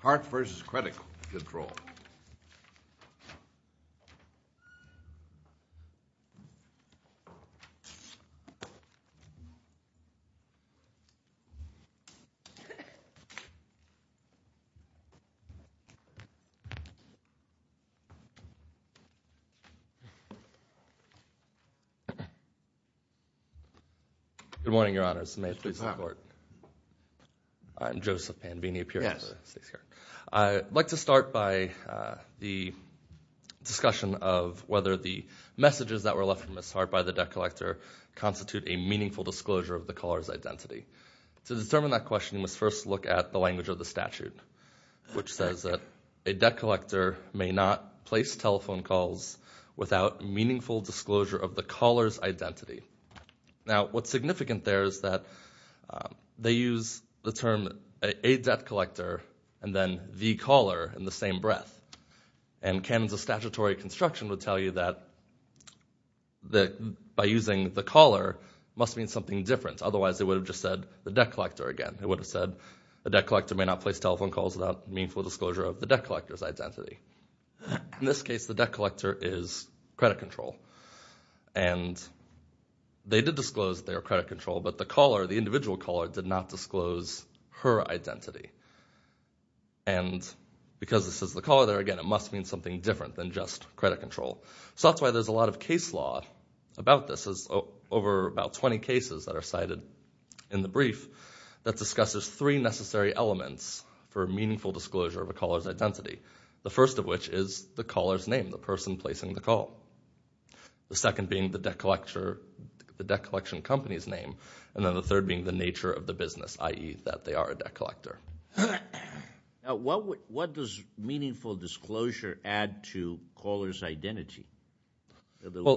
Hart v. Credit Control Good morning, Your Honors. May it please the Court. I'm Joseph Panvini. I'd like to start by the discussion of whether the messages that were left in Ms. Hart by the debt collector constitute a meaningful disclosure of the caller's identity. To determine that question, we must first look at the language of the statute, which says that a debt collector may not place telephone calls without meaningful disclosure of the caller's identity. Now, what's significant there is that they use the term a debt collector and then the caller in the same breath. And canons of statutory construction would tell you that by using the caller must mean something different. Otherwise, they would have just said the debt collector again. They would have said the debt collector may not place telephone calls without meaningful disclosure of the debt collector's identity. In this case, the debt collector is credit control. And they did disclose their credit control, but the caller, the individual caller, did not disclose her identity. And because this is the caller there, again, it must mean something different than just credit control. So that's why there's a lot of case law about this. There's over about 20 cases that are cited in the brief that discusses three necessary elements for a meaningful disclosure of a caller's identity. The first of which is the caller's name, the person placing the call. The second being the debt collector, the debt collection company's name. And then the third being the nature of the business, i.e., that they are a debt collector. Now, what does meaningful disclosure add to caller's identity? The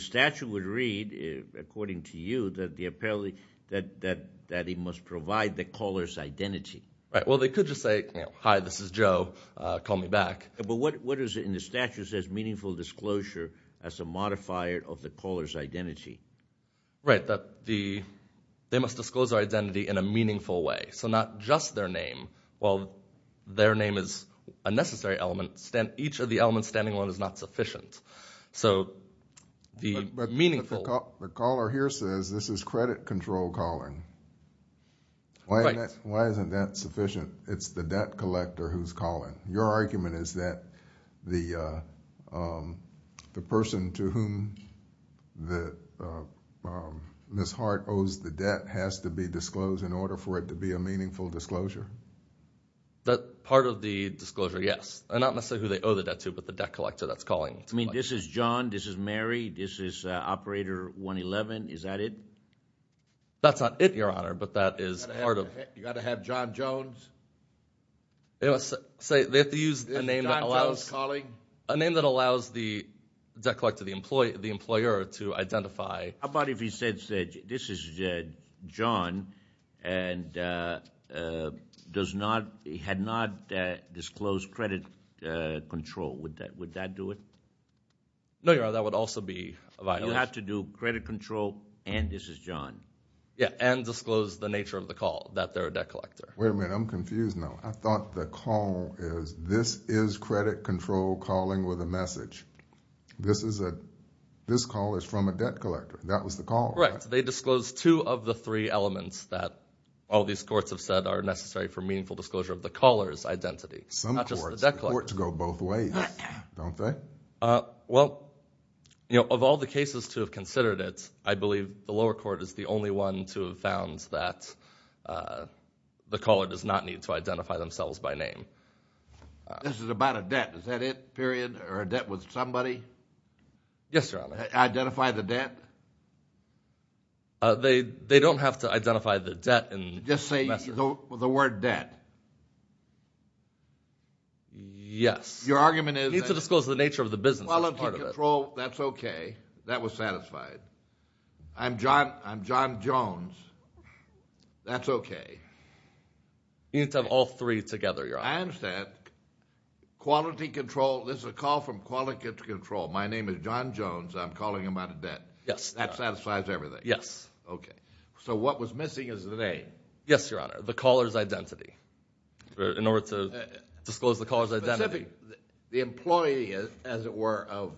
statute would read, according to you, that the apparently that he must provide the caller's identity. Right. Well, they could just say, you know, hi, this is Joe, call me back. But what is it in the statute that says meaningful disclosure as a modifier of the caller's identity? Right, that they must disclose their identity in a meaningful way. So not just their name. While their name is a necessary element, each of the elements standing alone is not sufficient. So the meaningful – But the caller here says this is credit control calling. Right. Why isn't that sufficient? It's the debt collector who's calling. Your argument is that the person to whom Ms. Hart owes the debt has to be disclosed in order for it to be a meaningful disclosure? Part of the disclosure, yes. Not necessarily who they owe the debt to, but the debt collector that's calling. I mean, this is John, this is Mary, this is operator 111. Is that it? That's not it, Your Honor, but that is part of – You've got to have John Jones? They have to use a name that allows – John Jones calling? A name that allows the debt collector, the employer, to identify – How about if he said, this is John and does not – had not disclosed credit control? Would that do it? No, Your Honor, that would also be a violation. You have to do credit control and this is John. Yeah, and disclose the nature of the call, that they're a debt collector. Wait a minute. I'm confused now. I thought the call is this is credit control calling with a message. This is a – this call is from a debt collector. That was the call, right? Correct. They disclosed two of the three elements that all these courts have said are necessary for meaningful disclosure of the caller's identity. Not just the debt collector's. Some courts report to go both ways, don't they? Well, of all the cases to have considered it, I believe the lower court is the only one to have found that the caller does not need to identify themselves by name. This is about a debt. Is that it, period, or a debt with somebody? Yes, Your Honor. Identify the debt? They don't have to identify the debt in the message. Just say the word debt. Yes. Your argument is that – You need to disclose the nature of the business as part of it. Quality control, that's okay. That was satisfied. I'm John Jones. That's okay. You need to have all three together, Your Honor. I understand. Quality control, this is a call from quality control. My name is John Jones. I'm calling about a debt. Yes, Your Honor. That satisfies everything. Yes. Okay. So what was missing is the name. Yes, Your Honor. The caller's identity in order to disclose the caller's identity. The employee, as it were, of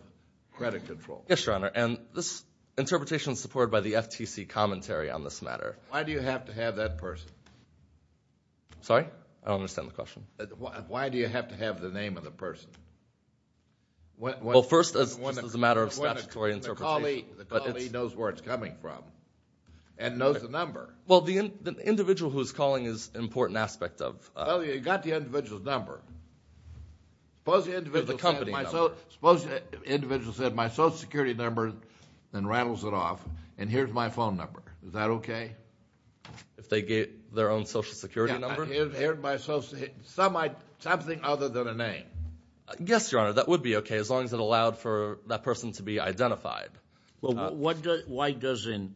credit control. Yes, Your Honor. And this interpretation is supported by the FTC commentary on this matter. Why do you have to have that person? Sorry? I don't understand the question. Why do you have to have the name of the person? Well, first, this is a matter of statutory interpretation. The callee knows where it's coming from and knows the number. Well, the individual who's calling is an important aspect of – Well, you got the individual's number. Suppose the individual said my social security number and rattles it off, and here's my phone number. Is that okay? If they get their own social security number? Yeah, here's my – something other than a name. Yes, Your Honor, that would be okay as long as it allowed for that person to be identified. Well, why doesn't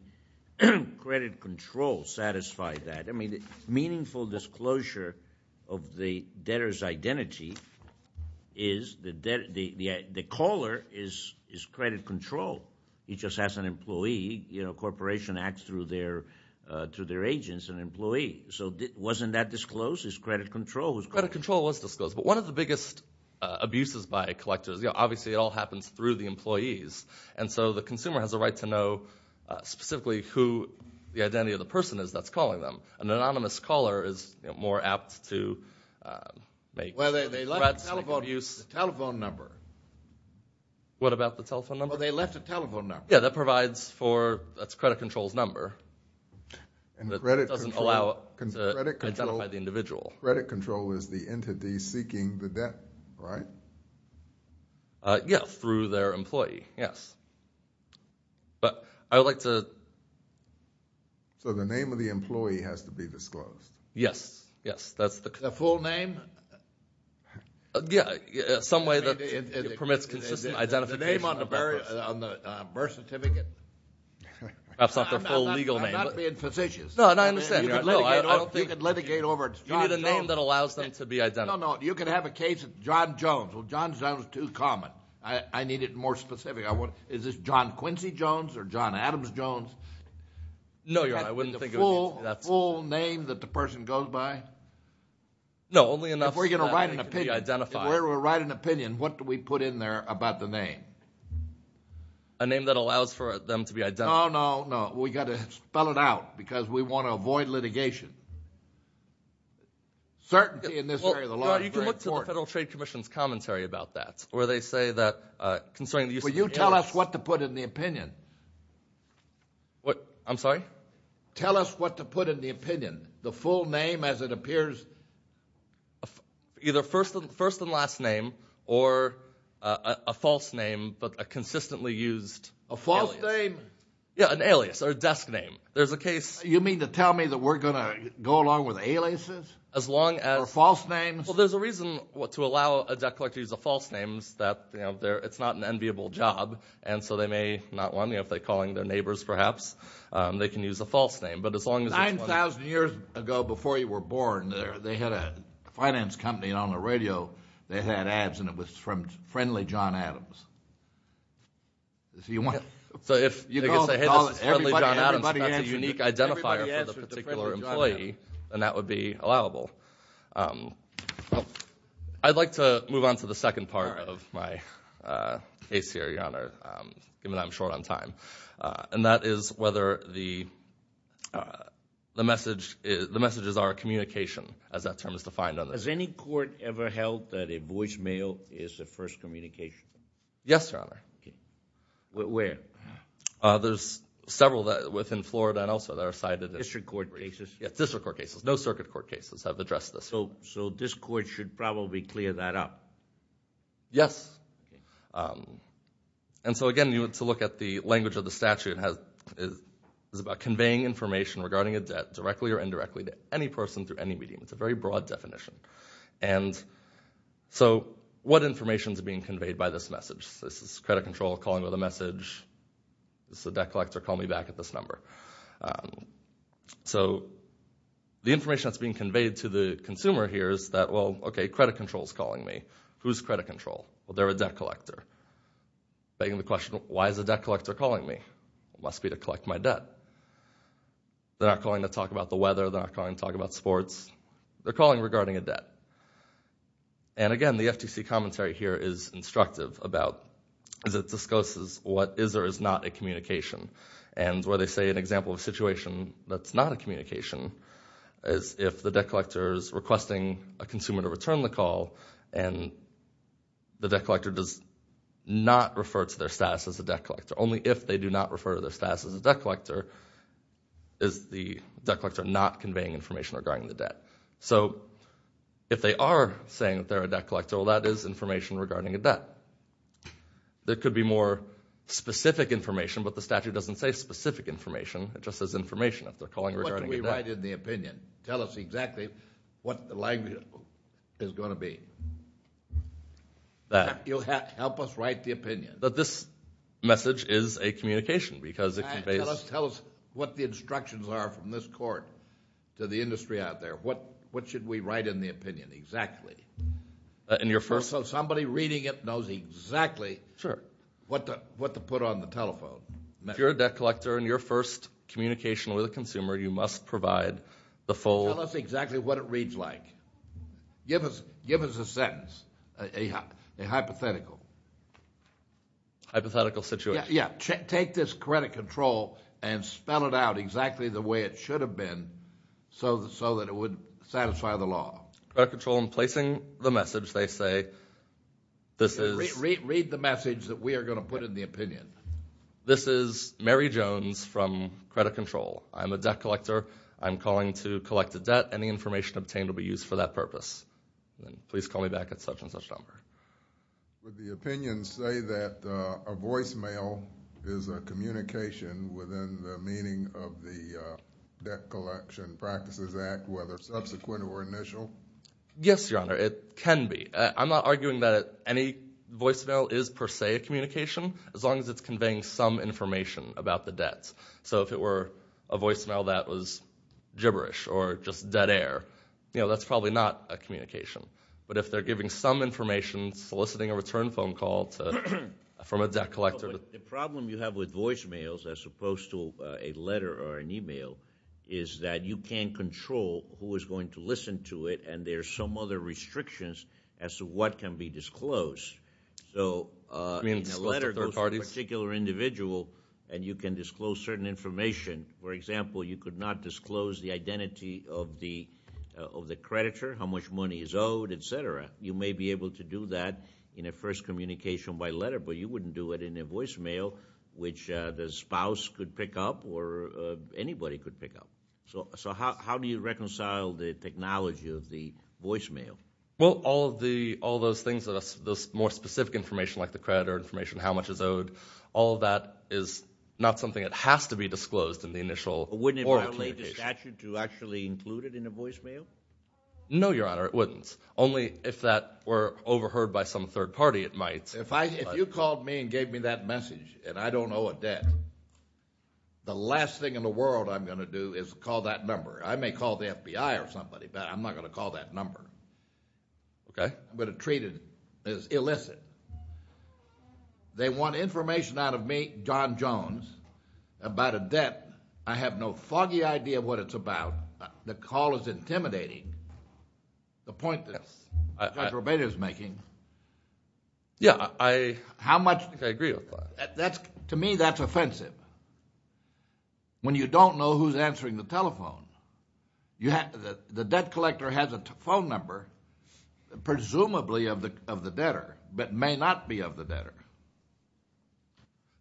credit control satisfy that? I mean, the meaningful disclosure of the debtor's identity is the caller is credit control. He just has an employee. A corporation acts through their agents, an employee. So wasn't that disclosed? It's credit control. Credit control was disclosed. But one of the biggest abuses by a collector is obviously it all happens through the employees. And so the consumer has a right to know specifically who the identity of the person is that's calling them. An anonymous caller is more apt to make threats. Well, they left a telephone number. What about the telephone number? Well, they left a telephone number. Yeah, that provides for – that's credit control's number. It doesn't allow it to identify the individual. Credit control is the entity seeking the debt, right? Yeah, through their employee, yes. But I would like to – So the name of the employee has to be disclosed? Yes, yes. The full name? Yeah, some way that it permits consistent identification. The name on the birth certificate? That's not their full legal name. I'm not being facetious. No, no, I understand. You can litigate over John Jones. You need a name that allows them to be identified. No, no, you can have a case of John Jones. Well, John Jones is too common. I need it more specific. Is this John Quincy Jones or John Adams Jones? No, Your Honor, I wouldn't think of it that way. The full name that the person goes by? No, only enough so that it can be identified. If we're going to write an opinion, what do we put in there about the name? A name that allows for them to be identified. No, no, no. We've got to spell it out because we want to avoid litigation. Certainty in this area of the law is very important. You can look to the Federal Trade Commission's commentary about that where they say that concerning the use of the alias. Will you tell us what to put in the opinion? What? I'm sorry? Tell us what to put in the opinion, the full name as it appears. Either first and last name or a false name but a consistently used alias. A false name? Yeah, an alias or a desk name. There's a case. You mean to tell me that we're going to go along with aliases? Or false names? Well, there's a reason to allow a debt collector to use a false name. It's not an enviable job, and so they may not want to. If they're calling their neighbors, perhaps, they can use a false name. 9,000 years ago before you were born, they had a finance company on the radio. They had ads, and it was from Friendly John Adams. So if you could say, hey, this is Friendly John Adams, and that's a unique identifier for the particular employee, then that would be allowable. I'd like to move on to the second part of my case here, Your Honor, given that I'm short on time, and that is whether the message is our communication, as that term is defined. Has any court ever held that a voicemail is the first communication? Yes, Your Honor. Where? There's several within Florida and elsewhere that are cited. District court cases? Yeah, district court cases. No circuit court cases have addressed this. So this court should probably clear that up? Yes. And so, again, to look at the language of the statute, it's about conveying information regarding a debt, directly or indirectly, to any person through any medium. It's a very broad definition. And so what information is being conveyed by this message? This is credit control calling with a message. This is a debt collector calling me back at this number. So the information that's being conveyed to the consumer here is that, well, okay, credit control is calling me. Who's credit control? Well, they're a debt collector. Begging the question, why is a debt collector calling me? It must be to collect my debt. They're not calling to talk about the weather. They're not calling to talk about sports. They're calling regarding a debt. And, again, the FTC commentary here is instructive about, as it discusses what is or is not a communication. And where they say an example of a situation that's not a communication is if the debt collector is requesting a consumer to return the call and the debt collector does not refer to their status as a debt collector. Only if they do not refer to their status as a debt collector is the debt collector not conveying information regarding the debt. So if they are saying that they're a debt collector, well, that is information regarding a debt. There could be more specific information, but the statute doesn't say specific information. It just says information if they're calling regarding a debt. What can we write in the opinion? Tell us exactly what the language is going to be. Help us write the opinion. This message is a communication because it conveys. Tell us what the instructions are from this court to the industry out there. What should we write in the opinion exactly? Somebody reading it knows exactly what to put on the telephone. If you're a debt collector and you're first communication with a consumer, you must provide the full. Tell us exactly what it reads like. Give us a sentence, a hypothetical. Hypothetical situation. Yeah, take this credit control and spell it out exactly the way it should have been so that it would satisfy the law. Credit control, in placing the message, they say this is... Read the message that we are going to put in the opinion. This is Mary Jones from Credit Control. I'm a debt collector. I'm calling to collect a debt. Any information obtained will be used for that purpose. Please call me back at such and such number. Would the opinion say that a voicemail is a communication within the meaning of the Debt Collection Practices Act, whether subsequent or initial? Yes, Your Honor, it can be. I'm not arguing that any voicemail is per se a communication as long as it's conveying some information about the debts. So if it were a voicemail that was gibberish or just dead air, that's probably not a communication. But if they're giving some information, soliciting a return phone call from a debt collector... The problem you have with voicemails as opposed to a letter or an email is that you can't control who is going to listen to it, and there are some other restrictions as to what can be disclosed. So a letter goes to a particular individual, and you can disclose certain information. For example, you could not disclose the identity of the creditor, how much money is owed, et cetera. You may be able to do that in a first communication by letter, but you wouldn't do it in a voicemail, which the spouse could pick up or anybody could pick up. So how do you reconcile the technology of the voicemail? Well, all those things, those more specific information like the creditor information, how much is owed, all that is not something that has to be disclosed in the initial... Wouldn't it violate the statute to actually include it in a voicemail? No, Your Honor, it wouldn't. Only if that were overheard by some third party, it might. If you called me and gave me that message, and I don't owe a debt, the last thing in the world I'm going to do is call that number. I may call the FBI or somebody, but I'm not going to call that number. Okay. I'm going to treat it as illicit. They want information out of me, John Jones, about a debt. I have no foggy idea what it's about. The call is intimidating. The point that Judge Robedo is making. Yeah, I agree with that. To me, that's offensive. When you don't know who's answering the telephone. The debt collector has a phone number, presumably of the debtor, but may not be of the debtor.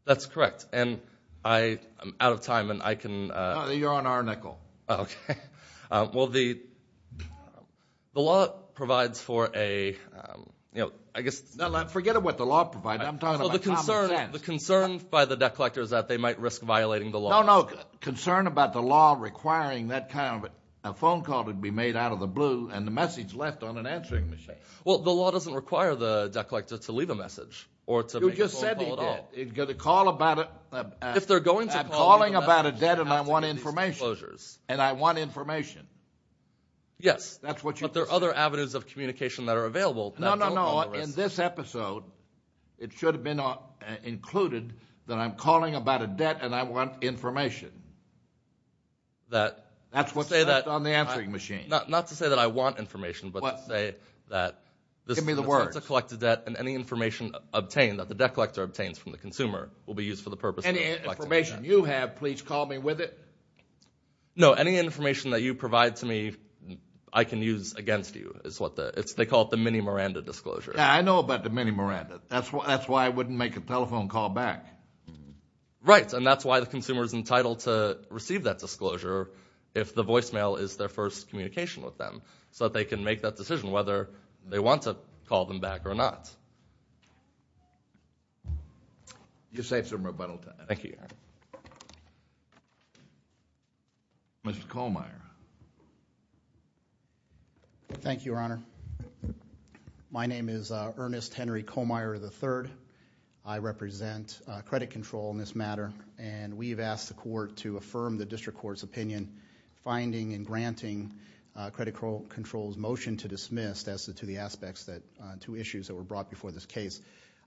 That's correct, and I'm out of time and I can... Well, the law provides for a, you know, I guess... Forget what the law provides. I'm talking about common sense. The concern by the debt collector is that they might risk violating the law. No, no. Concern about the law requiring that kind of a phone call to be made out of the blue and the message left on an answering machine. Well, the law doesn't require the debt collector to leave a message or to make a phone call at all. You just said he did. If they're going to... I'm calling about a debt and I want information. Closures. And I want information. Yes, but there are other avenues of communication that are available. No, no, no. In this episode, it should have been included that I'm calling about a debt and I want information. That's what's left on the answering machine. Not to say that I want information, but to say that... Give me the words.... this is a collected debt, and any information obtained that the debt collector obtains from the consumer will be used for the purpose of... No, any information that you provide to me, I can use against you. They call it the mini Miranda disclosure. I know about the mini Miranda. That's why I wouldn't make a telephone call back. Right, and that's why the consumer is entitled to receive that disclosure if the voicemail is their first communication with them so that they can make that decision whether they want to call them back or not. You saved some rebuttal time. Thank you. Mr. Kohlmeier. Thank you, Your Honor. My name is Ernest Henry Kohlmeier III. I represent credit control in this matter, and we've asked the court to affirm the district court's opinion finding and granting credit control's motion to dismiss as to the aspects that, to issues that were brought before this case.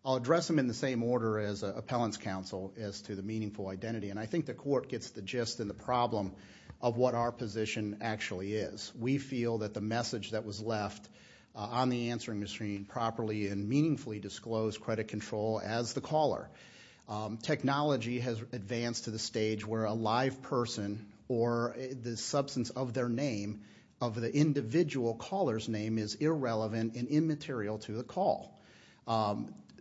I'll address them in the same order as appellants counsel as to the meaningful identity, and I think the court gets the gist and the problem of what our position actually is. We feel that the message that was left on the answering machine properly and meaningfully disclosed credit control as the caller. Technology has advanced to the stage where a live person or the substance of their name, of the individual caller's name, is irrelevant and immaterial to the call,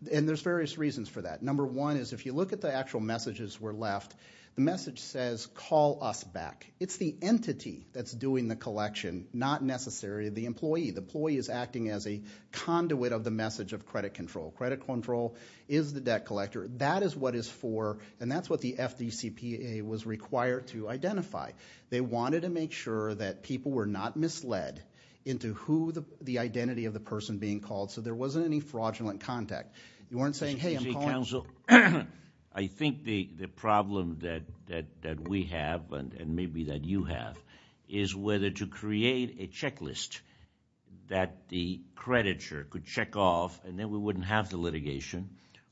and there's various reasons for that. Number one is if you look at the actual messages were left, the message says, call us back. It's the entity that's doing the collection, not necessarily the employee. The employee is acting as a conduit of the message of credit control. Credit control is the debt collector. That is what is for, and that's what the FDCPA was required to identify. They wanted to make sure that people were not misled into who the identity of the person being called so there wasn't any fraudulent contact. You weren't saying, hey, I'm calling. I think the problem that we have and maybe that you have is whether to create a checklist that the creditor could check off and then we wouldn't have the litigation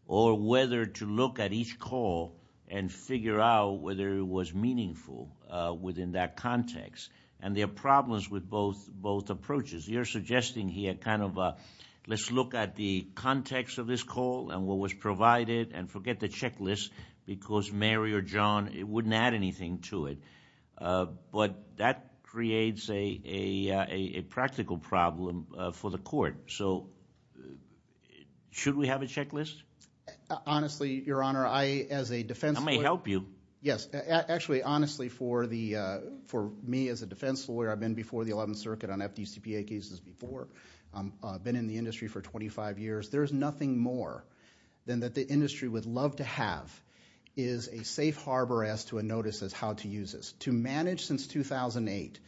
or whether to look at each call and figure out whether it was meaningful within that context, and there are problems with both approaches. You're suggesting here kind of let's look at the context of this call and what was provided and forget the checklist because Mary or John wouldn't add anything to it, but that creates a practical problem for the court. So should we have a checklist? Honestly, Your Honor, I as a defense lawyer— I may help you. Yes. Actually, honestly, for me as a defense lawyer, I've been before the 11th Circuit on FDCPA cases before. I've been in the industry for 25 years. There's nothing more than that the industry would love to have is a safe harbor as to a notice as how to use this. To manage since 2008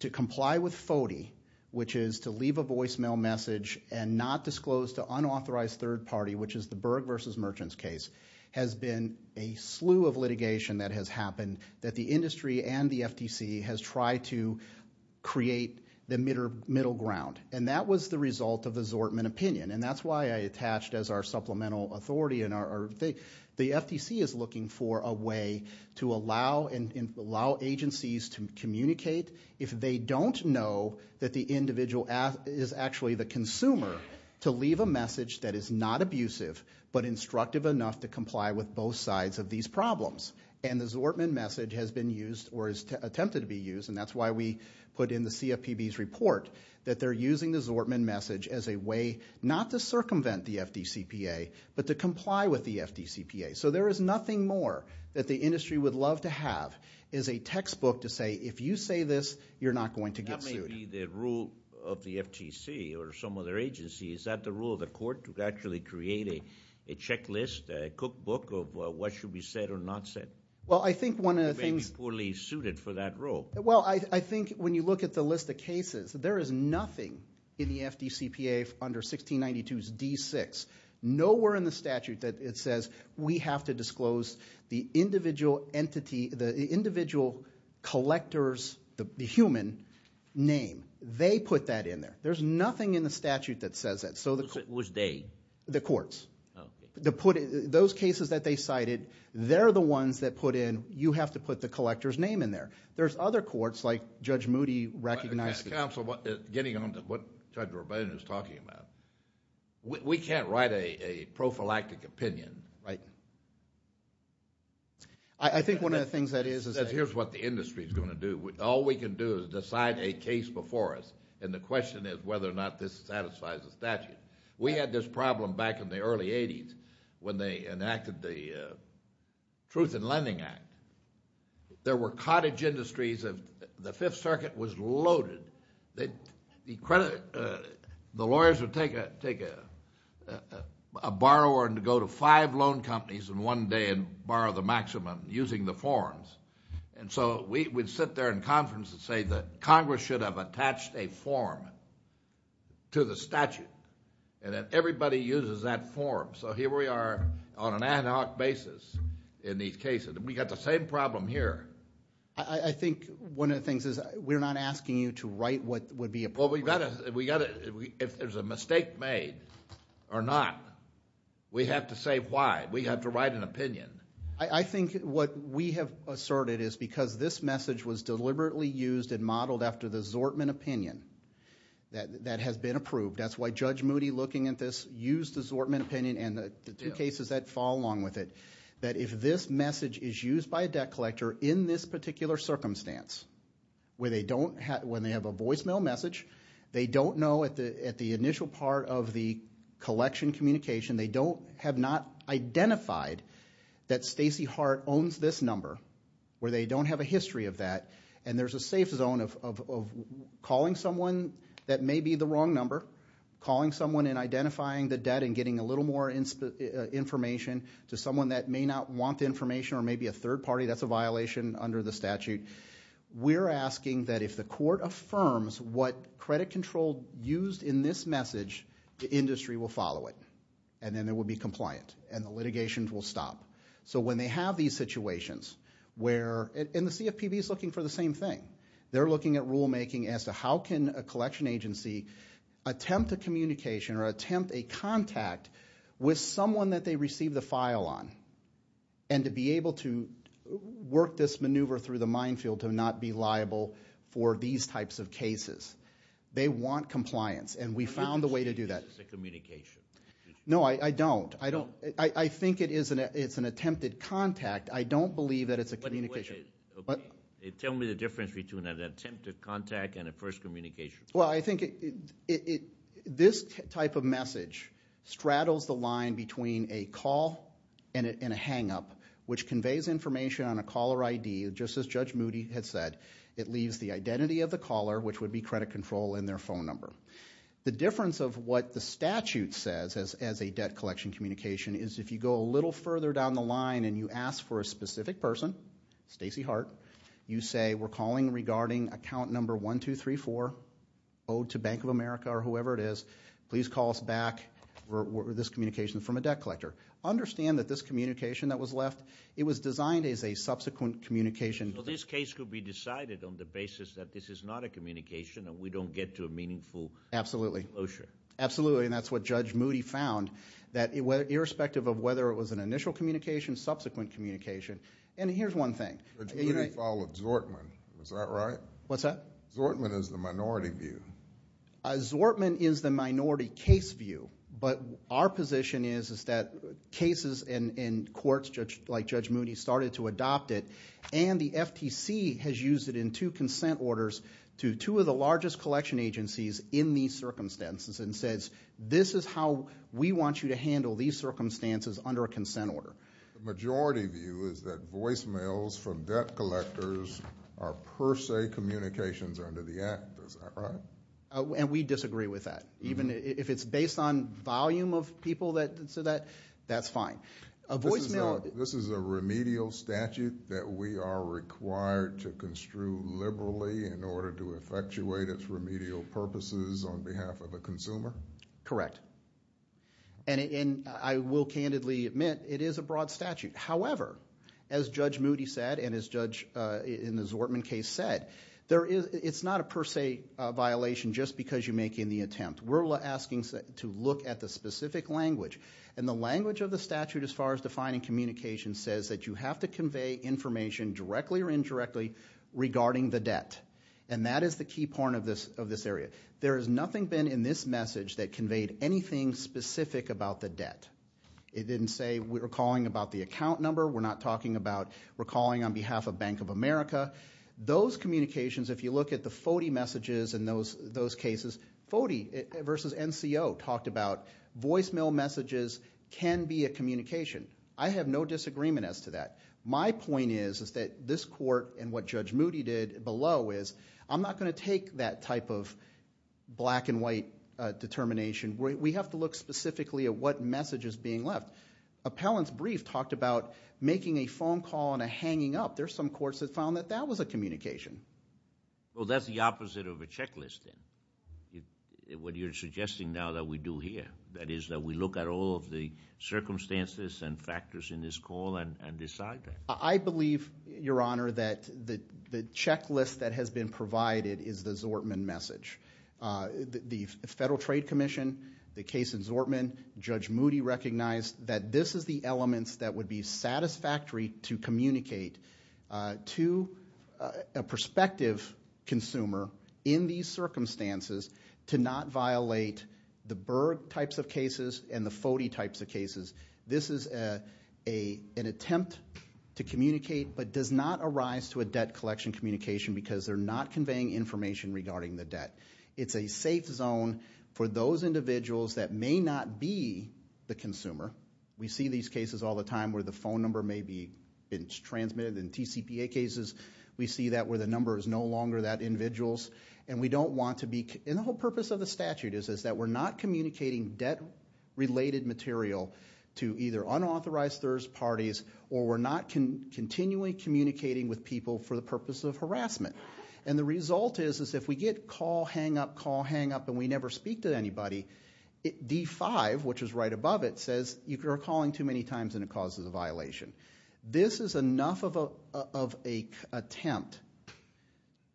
to comply with FODI, which is to leave a voicemail message and not disclose to unauthorized third party, which is the Berg v. Merchants case, has been a slew of litigation that has happened that the industry and the FTC has tried to create the middle ground, and that was the result of the Zortman opinion, and that's why I attached as our supplemental authority. The FTC is looking for a way to allow agencies to communicate if they don't know that the individual is actually the consumer to leave a message that is not abusive but instructive enough to comply with both sides of these problems, and the Zortman message has been used or has attempted to be used, and that's why we put in the CFPB's report that they're using the Zortman message as a way not to circumvent the FDCPA but to comply with the FDCPA. So there is nothing more that the industry would love to have is a textbook to say if you say this, you're not going to get sued. That may be the rule of the FTC or some other agency. Is that the rule of the court to actually create a checklist, a cookbook of what should be said or not said? Well, I think one of the things... You may be poorly suited for that role. Well, I think when you look at the list of cases, there is nothing in the FDCPA under 1692's D6, nowhere in the statute that it says we have to disclose the individual entity, the individual collector's, the human, name. They put that in there. There's nothing in the statute that says that. Who's they? The courts. Those cases that they cited, they're the ones that put in, you have to put the collector's name in there. There's other courts like Judge Moody recognizes. Counsel, getting on to what Judge Rabone is talking about, we can't write a prophylactic opinion. Right. I think one of the things that is... Here's what the industry is going to do. All we can do is decide a case before us, and the question is whether or not this satisfies the statute. We had this problem back in the early 80s when they enacted the Truth in Lending Act. There were cottage industries. The Fifth Circuit was loaded. The lawyers would take a borrower and go to five loan companies in one day and borrow the maximum using the forms. And so we'd sit there in conference and say that Congress should have attached a form to the statute and that everybody uses that form. So here we are on an ad hoc basis in these cases. We've got the same problem here. I think one of the things is we're not asking you to write what would be appropriate. Well, we've got to. If there's a mistake made or not, we have to say why. We have to write an opinion. I think what we have asserted is because this message was deliberately used and modeled after the Zortman opinion that has been approved. That's why Judge Moody looking at this used the Zortman opinion and the two cases that follow along with it, that if this message is used by a debt collector in this particular circumstance where they have a voicemail message, they don't know at the initial part of the collection communication, they have not identified that Stacy Hart owns this number where they don't have a history of that, and there's a safe zone of calling someone that may be the wrong number, calling someone and identifying the debt and getting a little more information to someone that may not want the information or maybe a third party. That's a violation under the statute. We're asking that if the court affirms what credit control used in this message, the industry will follow it, and then it will be compliant, and the litigation will stop. So when they have these situations where, and the CFPB is looking for the same thing. They're looking at rulemaking as to how can a collection agency attempt a communication or attempt a contact with someone that they receive the file on and to be able to work this maneuver through the minefield to not be liable for these types of cases. They want compliance, and we found a way to do that. This is a communication issue. No, I don't. I think it's an attempted contact. I don't believe that it's a communication. Tell me the difference between an attempted contact and a first communication. Well, I think this type of message straddles the line between a call and a hang-up, which conveys information on a caller ID, just as Judge Moody had said. It leaves the identity of the caller, which would be credit control, and their phone number. The difference of what the statute says as a debt collection communication is if you go a little further down the line and you ask for a specific person, Stacy Hart, you say we're calling regarding account number 1234 owed to Bank of America or whoever it is. Please call us back for this communication from a debt collector. Understand that this communication that was left, it was designed as a subsequent communication. So this case could be decided on the basis that this is not a communication and we don't get to a meaningful closure. Absolutely, and that's what Judge Moody found, that irrespective of whether it was an initial communication, subsequent communication. And here's one thing. Judge Moody followed Zortman. Was that right? What's that? Zortman is the minority view. Zortman is the minority case view. But our position is that cases and courts like Judge Moody started to adopt it, and the FTC has used it in two consent orders to two of the largest collection agencies in these circumstances and says this is how we want you to handle these circumstances under a consent order. The majority view is that voicemails from debt collectors are per se communications under the Act. Is that right? And we disagree with that. Even if it's based on volume of people that said that, that's fine. This is a remedial statute that we are required to construe liberally in order to effectuate its remedial purposes on behalf of a consumer? Correct. And I will candidly admit it is a broad statute. However, as Judge Moody said and as Judge in the Zortman case said, it's not a per se violation just because you make any attempt. We're asking to look at the specific language. And the language of the statute as far as defining communication says that you have to convey information directly or indirectly regarding the debt. And that is the key point of this area. There has nothing been in this message that conveyed anything specific about the debt. It didn't say we're calling about the account number. We're not talking about we're calling on behalf of Bank of America. Those communications, if you look at the FOTI messages in those cases, FOTI versus NCO talked about voicemail messages can be a communication. I have no disagreement as to that. My point is that this court and what Judge Moody did below is I'm not going to take that type of black and white determination. We have to look specifically at what message is being left. Appellant's brief talked about making a phone call and a hanging up. There are some courts that found that that was a communication. Well, that's the opposite of a checklist then, what you're suggesting now that we do here. That is that we look at all of the circumstances and factors in this call and decide that. I believe, Your Honor, that the checklist that has been provided is the Zortman message. The Federal Trade Commission, the case in Zortman, Judge Moody recognized that this is the elements that would be satisfactory to communicate to a prospective consumer in these circumstances to not violate the Berg types of cases and the FOTI types of cases. This is an attempt to communicate but does not arise to a debt collection communication because they're not conveying information regarding the debt. It's a safe zone for those individuals that may not be the consumer. We see these cases all the time where the phone number may be transmitted in TCPA cases. We see that where the number is no longer that individual's and we don't want to be, and the whole purpose of the statute is that we're not communicating debt related material to either unauthorized third parties or we're not continually communicating with people for the purpose of harassment. And the result is if we get call, hang up, call, hang up, and we never speak to anybody, D5, which is right above it, says you are calling too many times and it causes a violation. This is enough of an attempt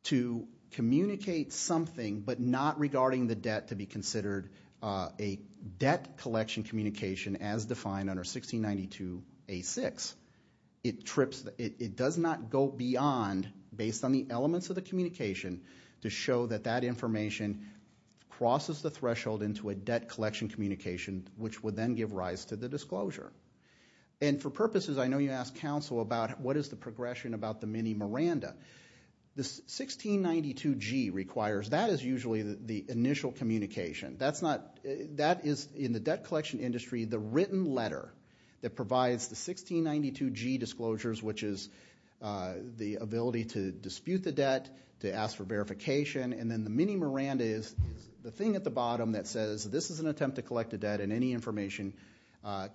to communicate something but not regarding the debt to be considered a debt collection communication as defined under 1692A6. It does not go beyond based on the elements of the communication to show that that information crosses the threshold into a debt collection communication, which would then give rise to the disclosure. And for purposes, I know you asked counsel about what is the progression about the mini Miranda. The 1692G requires that as usually the initial communication. That is in the debt collection industry the written letter that provides the 1692G disclosures, which is the ability to dispute the debt, to ask for verification, and then the mini Miranda is the thing at the bottom that says this is an attempt to collect the debt and any information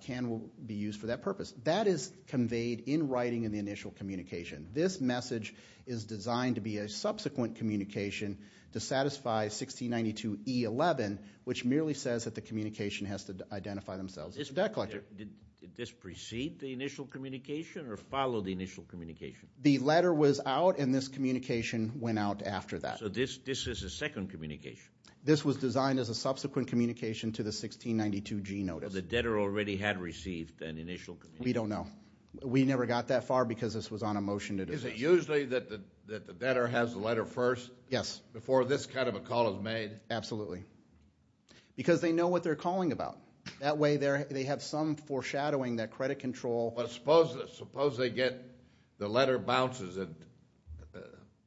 can be used for that purpose. That is conveyed in writing in the initial communication. This message is designed to be a subsequent communication to satisfy 1692E11, which merely says that the communication has to identify themselves as a debt collector. Did this precede the initial communication or follow the initial communication? The letter was out and this communication went out after that. So this is a second communication? This was designed as a subsequent communication to the 1692G notice. But the debtor already had received an initial communication? We don't know. We never got that far because this was on a motion to do so. Is it usually that the debtor has the letter first? Yes. Before this kind of a call is made? Absolutely. Because they know what they're calling about. That way they have some foreshadowing that credit control. But suppose they get the letter bounces and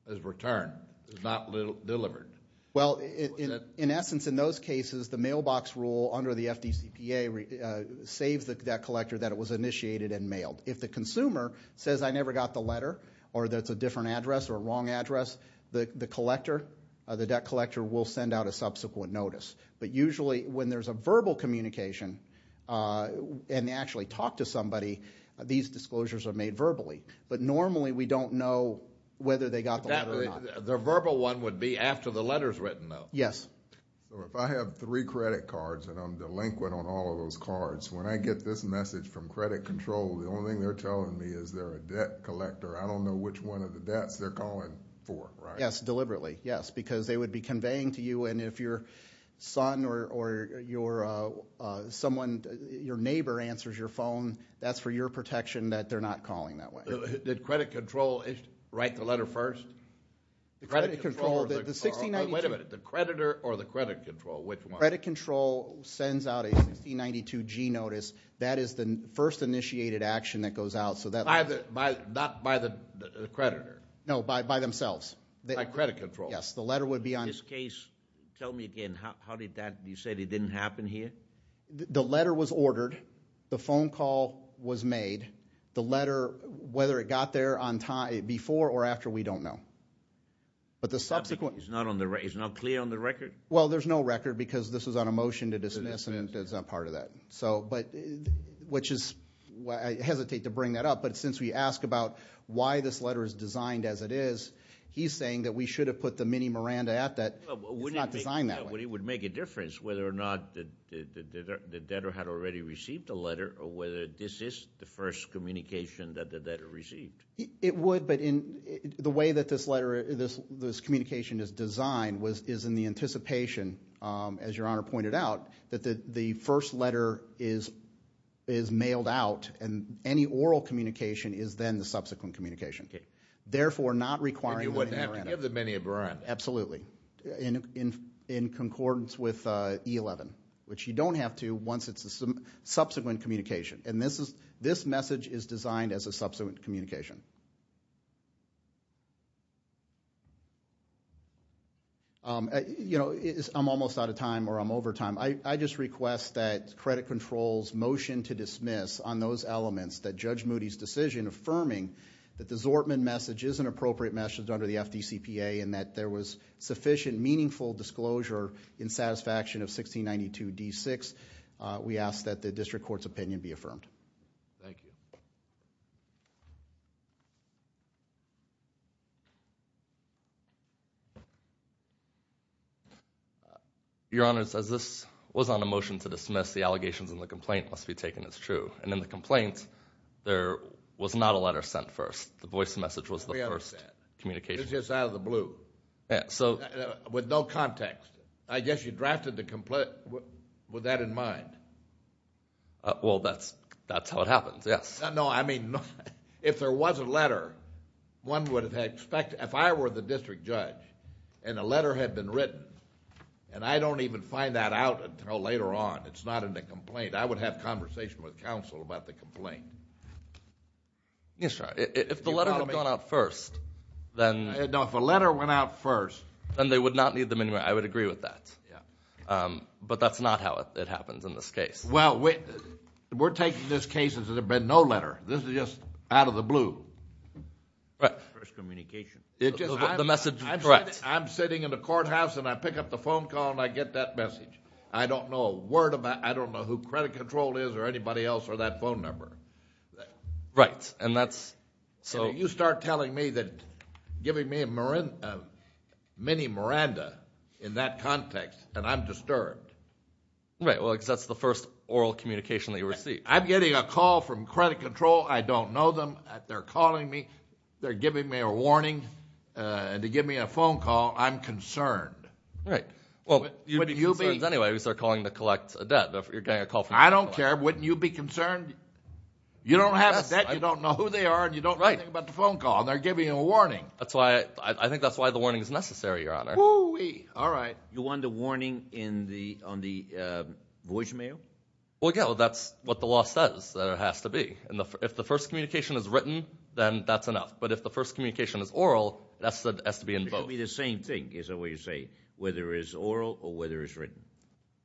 is returned, is not delivered. Well, in essence, in those cases, the mailbox rule under the FDCPA saves the debt collector that it was initiated and mailed. If the consumer says, I never got the letter, or that it's a different address or a wrong address, the debt collector will send out a subsequent notice. But usually when there's a verbal communication and they actually talk to somebody, these disclosures are made verbally. But normally we don't know whether they got the letter or not. The verbal one would be after the letter is written, though. Yes. So if I have three credit cards and I'm delinquent on all of those cards, when I get this message from credit control, the only thing they're telling me is they're a debt collector. I don't know which one of the debts they're calling for, right? Yes, deliberately, yes. Because they would be conveying to you, and if your son or your neighbor answers your phone, that's for your protection that they're not calling that way. Did credit control write the letter first? Credit control, the 1692 – Wait a minute. The creditor or the credit control, which one? Credit control sends out a 1692G notice. That is the first initiated action that goes out, so that – Not by the creditor? No, by themselves. By credit control? Yes, the letter would be on – In this case, tell me again, how did that – you said it didn't happen here? The letter was ordered. The phone call was made. The letter, whether it got there before or after, we don't know. But the subsequent – It's not clear on the record? Well, there's no record because this was on a motion to dismiss, and it's not part of that. But which is – I hesitate to bring that up, but since we ask about why this letter is designed as it is, he's saying that we should have put the mini Miranda at that. It's not designed that way. Well, it would make a difference whether or not the debtor had already received the letter or whether this is the first communication that the debtor received. It would, but the way that this communication is designed is in the anticipation, as Your Honor pointed out, that the first letter is mailed out, and any oral communication is then the subsequent communication. Okay. Therefore, not requiring the mini Miranda. You wouldn't have to give the mini a Miranda. Absolutely. In concordance with E11, which you don't have to once it's a subsequent communication. And this message is designed as a subsequent communication. I'm almost out of time or I'm over time. I just request that credit controls motion to dismiss on those elements that Judge Moody's decision affirming that the Zortman message is an appropriate message under the FDCPA and that there was sufficient meaningful disclosure in satisfaction of 1692 D6. We ask that the district court's opinion be affirmed. Thank you. Your Honor, as this was on a motion to dismiss, the allegations in the complaint must be taken as true. And in the complaint, there was not a letter sent first. The voice message was the first communication. It was just out of the blue. Yeah, so. With no context. I guess you drafted the complaint with that in mind. Well, that's how it happens, yes. No, I mean, if there was a letter, one would have expected, if I were the district judge, and a letter had been written, and I don't even find that out until later on, it's not in the complaint, I would have conversation with counsel about the complaint. Yes, Your Honor. If the letter had gone out first, then. No, if a letter went out first. Then they would not need them anyway. I would agree with that. Yeah. But that's not how it happens in this case. Well, we're taking this case as it had been no letter. This is just out of the blue. Right. First communication. The message is correct. I'm sitting in the courthouse, and I pick up the phone call, and I get that message. I don't know a word about it. I don't know who credit control is or anybody else or that phone number. Right, and that's. So you start telling me that giving me a mini Miranda in that context, and I'm disturbed. Right, well, because that's the first oral communication that you receive. I'm getting a call from credit control. I don't know them. They're calling me. They're giving me a warning. And to give me a phone call, I'm concerned. Right. Well, you'd be concerned anyway because they're calling to collect a debt. You're getting a call from credit control. I don't care. Wouldn't you be concerned? You don't have a debt. You don't know who they are, and you don't know anything about the phone call, and they're giving you a warning. I think that's why the warning is necessary, Your Honor. Woo-wee. All right. You want a warning on the voicemail? Well, yeah, that's what the law says that it has to be. If the first communication is written, then that's enough. But if the first communication is oral, that has to be invoked. It's going to be the same thing, is the way you say it, whether it's oral or whether it's written.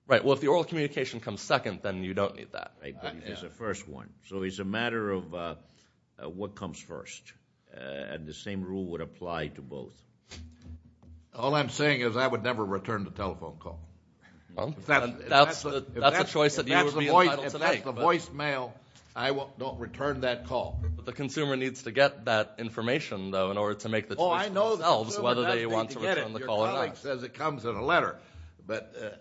Right. Well, if the oral communication comes second, then you don't need that. But if it's the first one. So it's a matter of what comes first. And the same rule would apply to both. All I'm saying is I would never return the telephone call. That's a choice that you would be entitled to make. If that's the voicemail, I don't return that call. But the consumer needs to get that information, though, in order to make the choice themselves, whether they want to return the call or not. Your colleague says it comes in a letter. But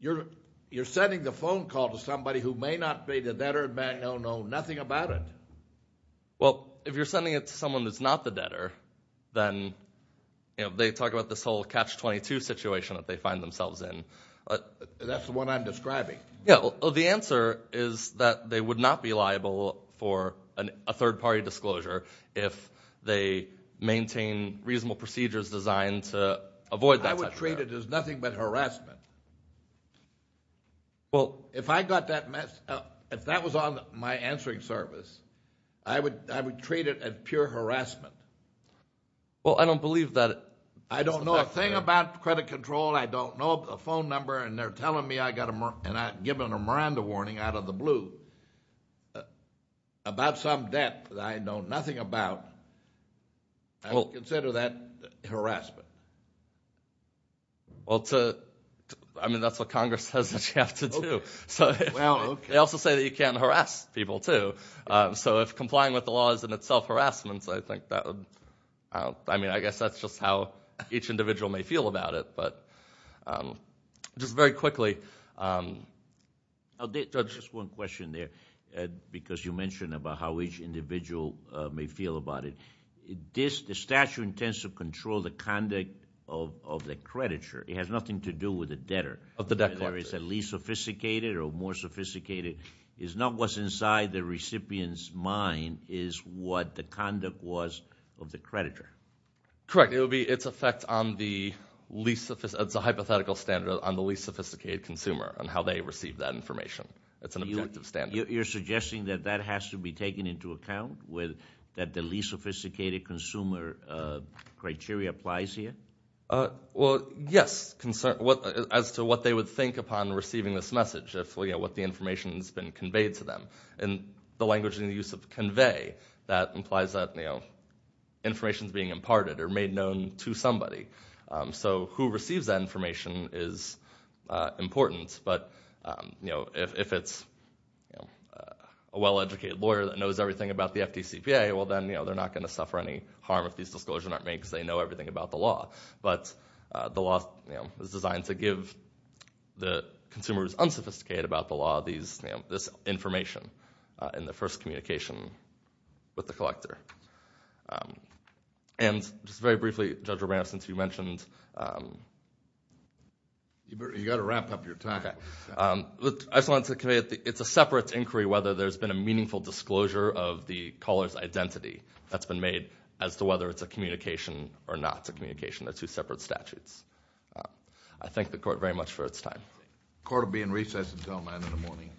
you're sending the phone call to somebody who may not be the debtor and may not know nothing about it. Well, if you're sending it to someone who's not the debtor, then they talk about this whole Catch-22 situation that they find themselves in. That's the one I'm describing. The answer is that they would not be liable for a third-party disclosure if they maintain reasonable procedures designed to avoid that. I would treat it as nothing but harassment. Well, if I got that message, if that was on my answering service, I would treat it as pure harassment. Well, I don't believe that. I don't know a thing about credit control. I don't know a phone number, and they're telling me I got a Miranda warning out of the blue about some debt that I know nothing about. I would consider that harassment. Well, I mean, that's what Congress says that you have to do. They also say that you can't harass people, too. So if complying with the law is in itself harassment, I think that would – I don't know how each individual may feel about it, but just very quickly – Just one question there, because you mentioned about how each individual may feel about it. The statute intends to control the conduct of the creditor. It has nothing to do with the debtor. Of the debt collector. Whether it's at least sophisticated or more sophisticated is not what's inside the recipient's mind. It's what the conduct was of the creditor. Correct. It would be its effect on the least – it's a hypothetical standard on the least sophisticated consumer on how they receive that information. It's an objective standard. You're suggesting that that has to be taken into account, that the least sophisticated consumer criteria applies here? Well, yes, as to what they would think upon receiving this message, what the information has been conveyed to them. In the language and the use of convey, that implies that information is being imparted or made known to somebody. So who receives that information is important, but if it's a well-educated lawyer that knows everything about the FDCPA, well, then they're not going to suffer any harm if these disclosures aren't made because they know everything about the law. But the law is designed to give the consumers unsophisticated about the law this information in their first communication with the collector. And just very briefly, Judge Robanoff, since you mentioned – You've got to wrap up your time. I just wanted to convey it's a separate inquiry whether there's been a meaningful disclosure of the caller's identity that's been made as to whether it's a communication or not a communication. They're two separate statutes. I thank the court very much for its time. The court will be in recess until 9 in the morning.